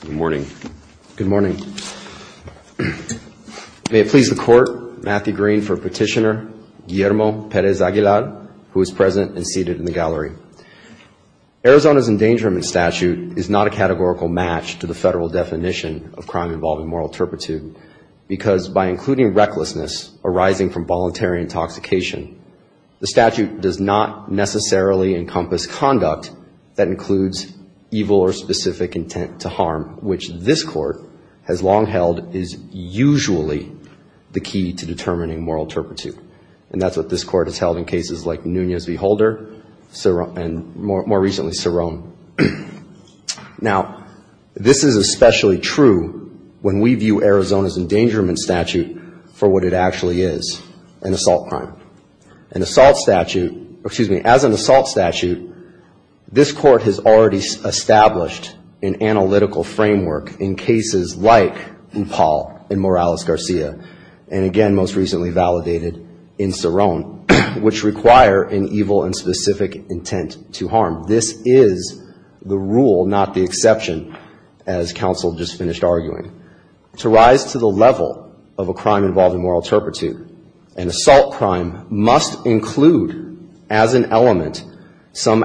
Good morning. Good morning. May it please the court, Matthew Green for petitioner Guillermo Perez-Aguilar who is present and seated in the gallery. Arizona's endangerment statute is not a categorical match to the federal definition of crime involving moral turpitude because by including recklessness arising from voluntary intoxication, the statute does not necessarily encompass conduct that includes evil or specific intent to which this court has long held is usually the key to determining moral turpitude. And that's what this court has held in cases like Nunez v. Holder and more recently, Cerrone. Now, this is especially true when we view Arizona's endangerment statute for what it actually is, an assault crime. An assault statute, excuse me, as an assault statute, this court has already established an analytical framework in cases like Upal and Morales-Garcia and again, most recently validated in Cerrone, which require an evil and specific intent to harm. This is the rule, not the exception, as counsel just finished arguing. To rise to the level of a crime involving moral turpitude, an assault crime must include as an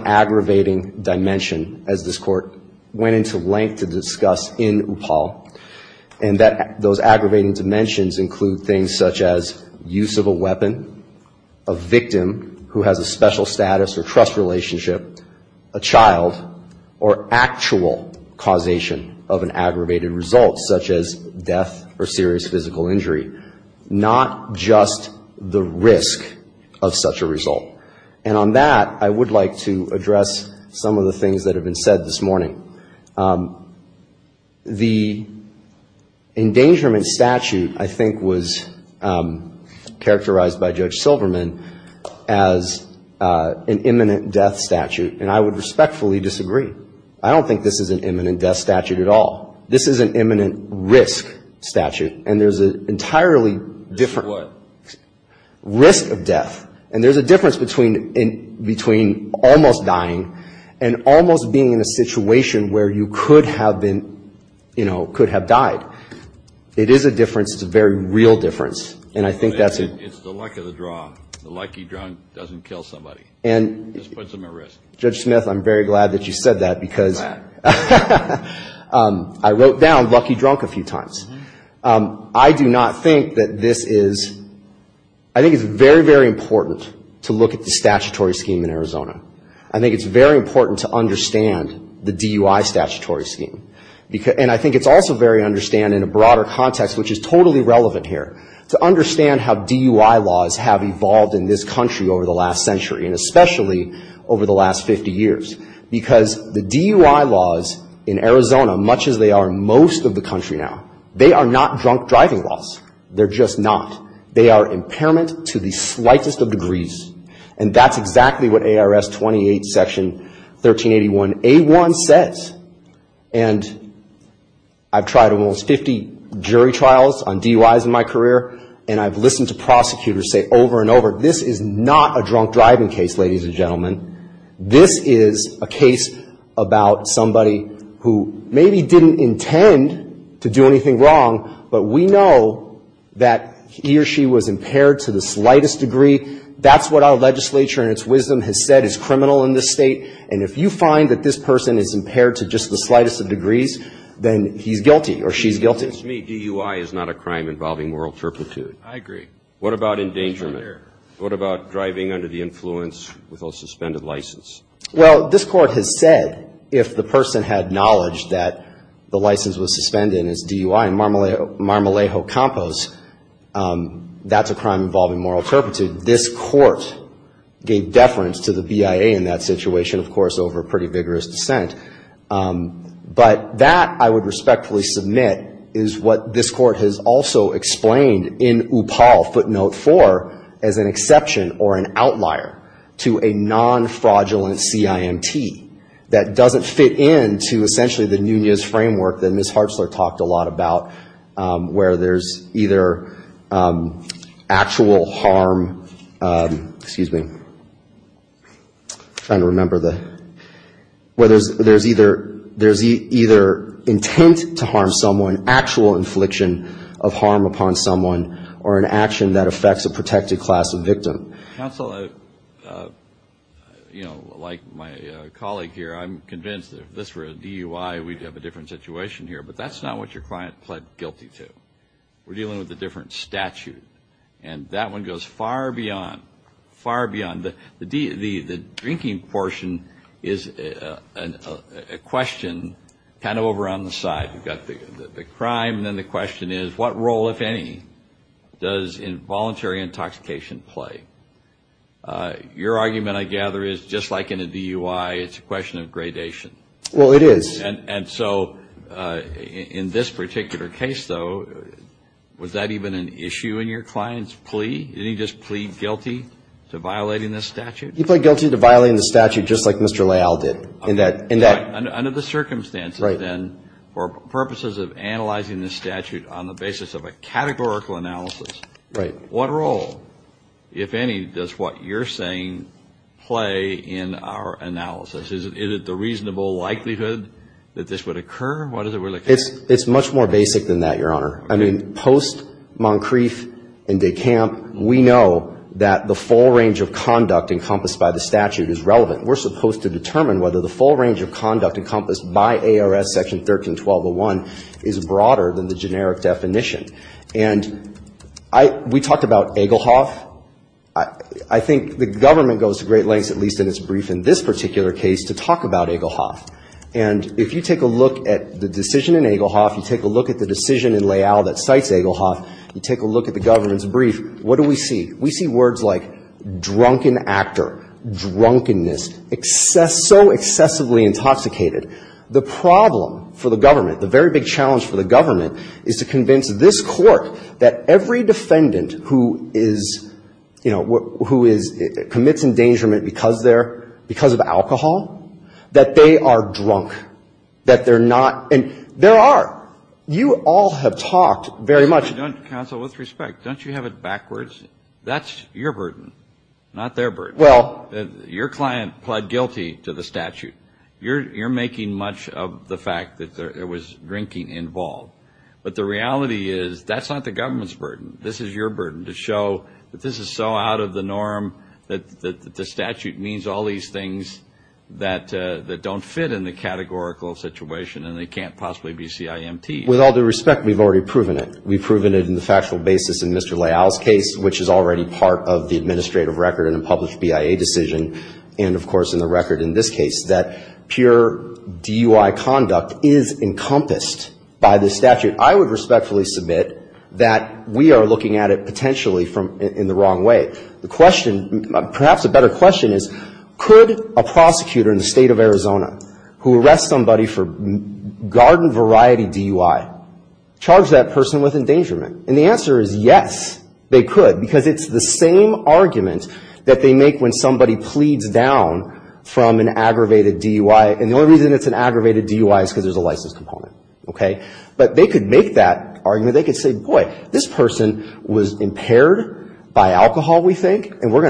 aggravating dimension, as this court went into length to discuss in Upal, and that those aggravating dimensions include things such as use of a weapon, a victim who has a special status or trust relationship, a child or actual causation of an aggravated result such as death or serious physical injury, not just the risk of such a result. And on that, I would like to say a couple of things that have been said this morning. The endangerment statute, I think, was characterized by Judge Silverman as an imminent death statute, and I would respectfully disagree. I don't think this is an imminent death statute at all. This is an imminent risk statute, and there's an entirely different risk of death, and there's a difference between almost dying and almost being in a situation where you could have been, you know, could have died. It is a difference. It's a very real difference, and I think that's a... It's the luck of the draw. The lucky drunk doesn't kill somebody. Just puts them at risk. Judge Smith, I'm very glad that you said that, because I wrote down lucky drunk a few times. I do not think that this is, I think it's very, very important to look at the statutory scheme in Arizona. I think it's very important to understand the DUI statutory scheme. And I think it's also very understand in a broader context, which is totally relevant here, to understand how DUI laws have evolved in this country over the last century, and especially over the last 50 years. Because the DUI laws in Arizona, much as they are in most of the country now, they are not drunk driving laws. They're just not. They are impairment to the slightest of degrees, and that's exactly what ARS 28 Section 1381a1 says. And I've tried almost 50 jury trials on DUIs in my career, and I've listened to prosecutors say over and over, this is not a drunk driving case, ladies and gentlemen. This is a case about somebody who maybe didn't intend to do anything wrong, but we know that he or she was impaired to the slightest degree. That's what our legislature in its wisdom has said is criminal in this state. And if you find that this person is impaired to just the slightest of degrees, then he's guilty or she's guilty. It seems to me DUI is not a crime involving moral turpitude. What about endangerment? It's right there. What about driving under the influence with a suspended license? Well, this Court has said if the person had knowledge that the license was suspended and it's DUI, in Marmalejo Campos, that's a crime involving moral turpitude. This Court gave deference to the BIA in that situation, of course, over pretty vigorous dissent. But that, I would respectfully submit, is what this Court has also explained in Upal Footnote 4 as an exception or an outlier to a non-fraudulent CIMT that doesn't fit in to essentially the Nunez framework that Ms. Hartzler talked a lot about where there's either actual harm, excuse me, I'm trying to remember the, where there's either intent to harm someone, actual infliction of harm upon someone, or an action that affects a protected class of victim. Counsel, you know, like my colleague here, I'm convinced that if this were a DUI, we'd have a different situation here. But that's not what your client pled guilty to. We're dealing with a different statute. And that one goes far beyond, far beyond the, the drinking portion is a question kind of over on the side. We've got the crime, and then the question is, what role, if any, does involuntary intoxication play? Your argument, I gather, is just like in a DUI, it's a question of gradation. Well, it is. And so, in this particular case, though, was that even an issue in your client's plea? Did he just plead guilty to violating this statute? He pled guilty to violating the statute, just like Mr. Leal did. Okay. In that, in that. Under the circumstances, then, for purposes of analyzing the statute on the basis of a categorical analysis. Right. What role, if any, does what you're saying play in our analysis? Is it the reasonable likelihood that this would occur? What is it we're looking at? It's, it's much more basic than that, Your Honor. I mean, post-Moncrief and DeCamp, we know that the full range of conduct encompassed by the statute is relevant. We're supposed to determine whether the full range of conduct encompassed by ARS Section 13-1201 is broader than the generic definition. And I, we talked about Egelhoff. I, I think the government goes to great lengths, at least in its brief in this particular case, to talk about Egelhoff. And if you take a look at the decision in Egelhoff, you take a look at the decision in Leal that cites Egelhoff, you take a look at the government's brief, what do we see? We see words like drunken actor, drunkenness, excess, so excessively intoxicated. The problem for the government, the very big challenge for the government, is to convince this Court that every defendant who is, you know, who is, commits endangerment because they're, because of alcohol, that they are drunk. That they're not, and there are, you all have talked very much. Counsel, with respect, don't you have it backwards? That's your burden, not their burden. Well. Your client pled guilty to the statute. You're, you're making much of the fact that there was drinking involved. But the reality is, that's not the government's burden. This is your burden, to show that this is so out of the norm that, that the statute means all these things that, that don't fit in the categorical situation, and they can't possibly be CIMT. With all due respect, we've already proven it. We've proven it in the factual basis in Mr. Leal's case, which is already part of the administrative record in a published BIA decision, and of course in the record in this case, that pure DUI conduct is encompassed by the statute. I would respectfully submit that we are looking at it potentially from, in the wrong way. The question, perhaps a better question is, could a prosecutor in the state of Arizona, who arrests somebody for garden variety DUI, charge that person with endangerment? And the answer is yes, they could, because it's the same argument that they make when somebody pleads down from an aggravated DUI, and the only reason it's an aggravated DUI is because there's a license component. Okay? But they could make that argument. They could say, boy, this person's going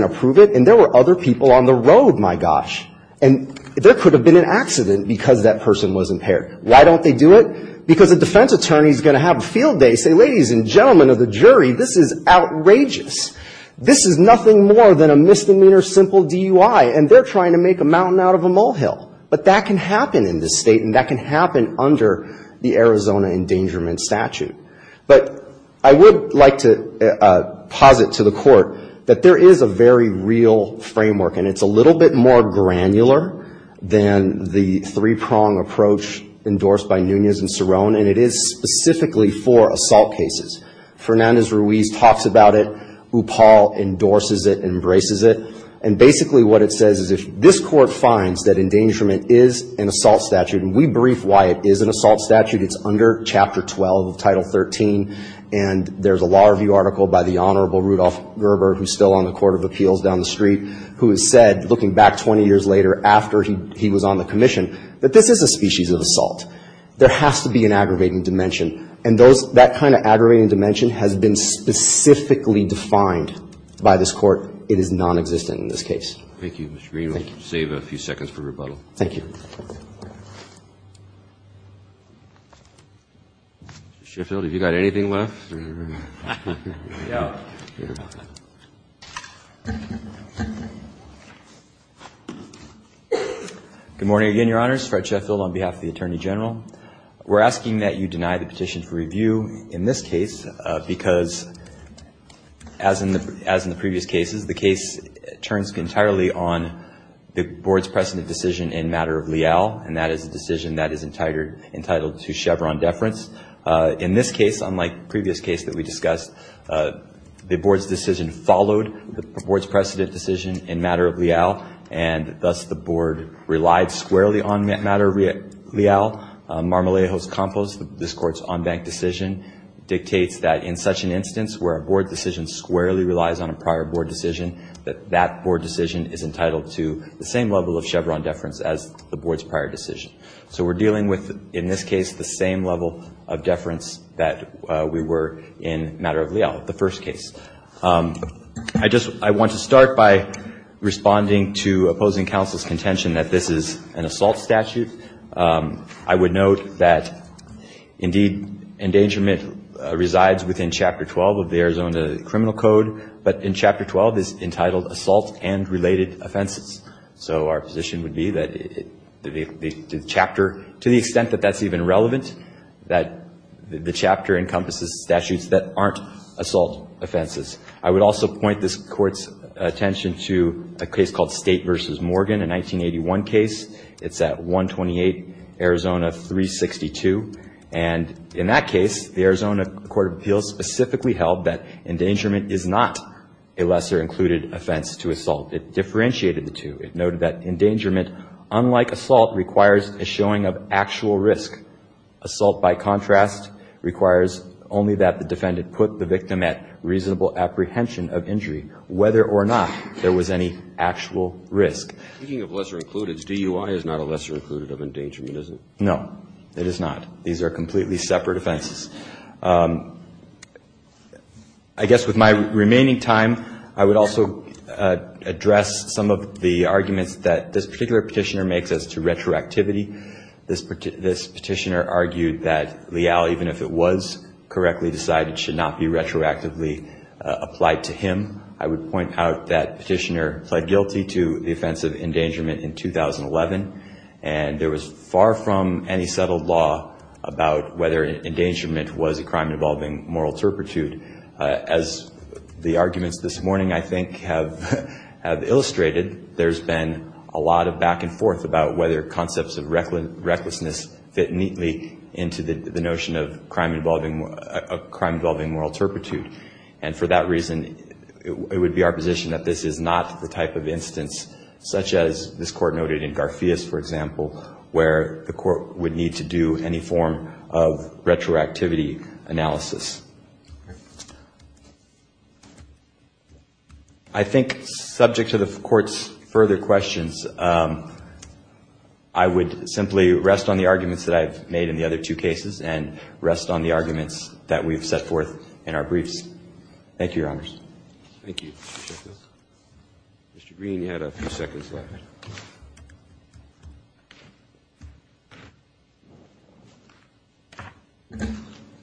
to prove it, and there were other people on the road, my gosh, and there could have been an accident because that person was impaired. Why don't they do it? Because a defense attorney's going to have a field day, say, ladies and gentlemen of the jury, this is outrageous. This is nothing more than a misdemeanor simple DUI, and they're trying to make a mountain out of a molehill. But that can happen in this State, and that can happen under the Arizona endangerment statute. But I would like to posit to the Court that there is a very real framework, and it's a little bit more granular than the three-prong approach endorsed by Nunez and Cerrone, and it is specifically for assault cases. Fernandez-Ruiz talks about it. Upal endorses it, embraces it. And basically what it says is if this Court finds that endangerment is an assault statute, and we brief why it is an assault statute, it's under Chapter 12 of Title 13, and there's a law review article by the Honorable Rudolph Gerber, who's still on the Court of Appeals down the street, who has said, looking back 20 years later after he was on the Commission, that this is a species of assault. There has to be an aggravating dimension, and that kind of aggravating dimension has been specifically defined by this Court. It is non-existent in this case. Thank you, Mr. Green. We'll save a few seconds for rebuttal. Thank you. Mr. Sheffield, have you got anything left? No. Good morning again, Your Honors. Fred Sheffield on behalf of the Attorney General. We're asking that you deny the petition for review in this case, because as in the previous cases, the case turns entirely on the Board's precedent decision in matter of leal, and that is a decision that is entitled to Chevron deference. In this case, unlike the previous case that we discussed, the Board decision followed the Board's precedent decision in matter of leal, and thus the Board relied squarely on matter of leal. Marmolejo's Compos, this Court's en banc decision, dictates that in such an instance where a Board decision squarely relies on a prior Board decision, that that Board decision is entitled to the same level of Chevron deference as the Board's prior decision. So we're dealing with, in this case, the same level of deference that we were in matter of leal in the first case. I just, I want to start by responding to opposing counsel's contention that this is an assault statute. I would note that, indeed, endangerment resides within Chapter 12 of the Arizona Criminal Code, but in Chapter 12 it's entitled Assault and Related Offenses. So our position would be that the chapter, to the extent that that's even relevant, that the chapter encompasses statutes that aren't assault offenses. I would also point this Court's attention to a case called State v. Morgan, a 1981 case. It's at 128 Arizona 362. And in that case, the Arizona Court of Appeals specifically held that endangerment is not a lesser included offense to assault. It differentiated the two. It noted that endangerment, unlike assault, requires a showing of actual risk. Assault, by contrast, requires only that the defendant put the victim at reasonable apprehension of injury, whether or not there was any actual risk. Speaking of lesser included, DUI is not a lesser included of endangerment, is it? No, it is not. These are completely separate offenses. I guess with my remaining time, I would also address some of the arguments that this particular petitioner makes as to retroactivity. This petitioner argued that Leal, even if it was correctly decided, should not be retroactively applied to him. I would point out that petitioner pled guilty to the offense of endangerment in 2011. And there was far from any settled law about whether endangerment was a crime involving moral turpitude. As the arguments this morning, I think, have illustrated, there's been a lot of back and forth about whether concepts of recklessness fit neatly into the notion of crime involving moral turpitude. And for that reason, it would be our position that this is not the type of instance, such as this Court noted in Garfias, for example, where the plaintiff is not entitled to be held accountable for his actions. I think subject to the Court's further questions, I would simply rest on the arguments that I've made in the other two cases and rest on the arguments that we've set forth in our briefs. Thank you, Your Honors. Mr. Green, you had a few seconds left.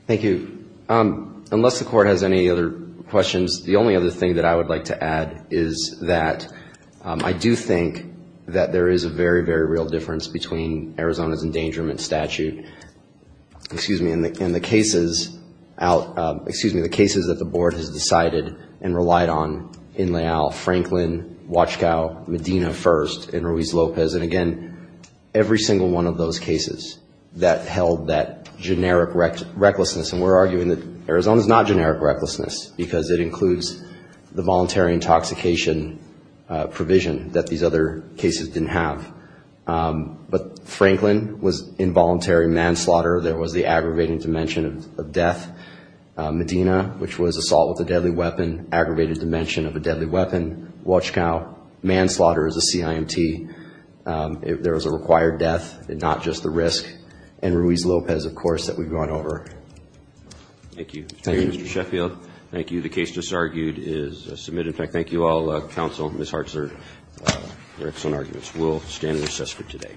Thank you. Unless the Court has any other questions, the only other thing that I would like to add is that I do think that there is a very, very real difference between Arizona's endangerment statute, excuse me, and the cases out, excuse me, the cases that the Board has decided and relied on in Leal, Franklin, Wachkow, Medina first, and Ruiz Lopez. And again, every single one of those cases that held that generic recklessness. And we're arguing that Arizona's not generic recklessness because it includes the voluntary intoxication provision that these other cases didn't have. But Franklin was involuntary manslaughter. There was the assault with a deadly weapon, aggravated dimension of a deadly weapon. Wachkow, manslaughter as a CIMT. There was a required death and not just the risk. And Ruiz Lopez, of course, that we've gone over. Thank you. Thank you, Mr. Sheffield. Thank you. The case just argued is submitted. In fact, thank you all. Counsel, Ms. Hartzer, your excellent arguments. We'll stand and recess for today.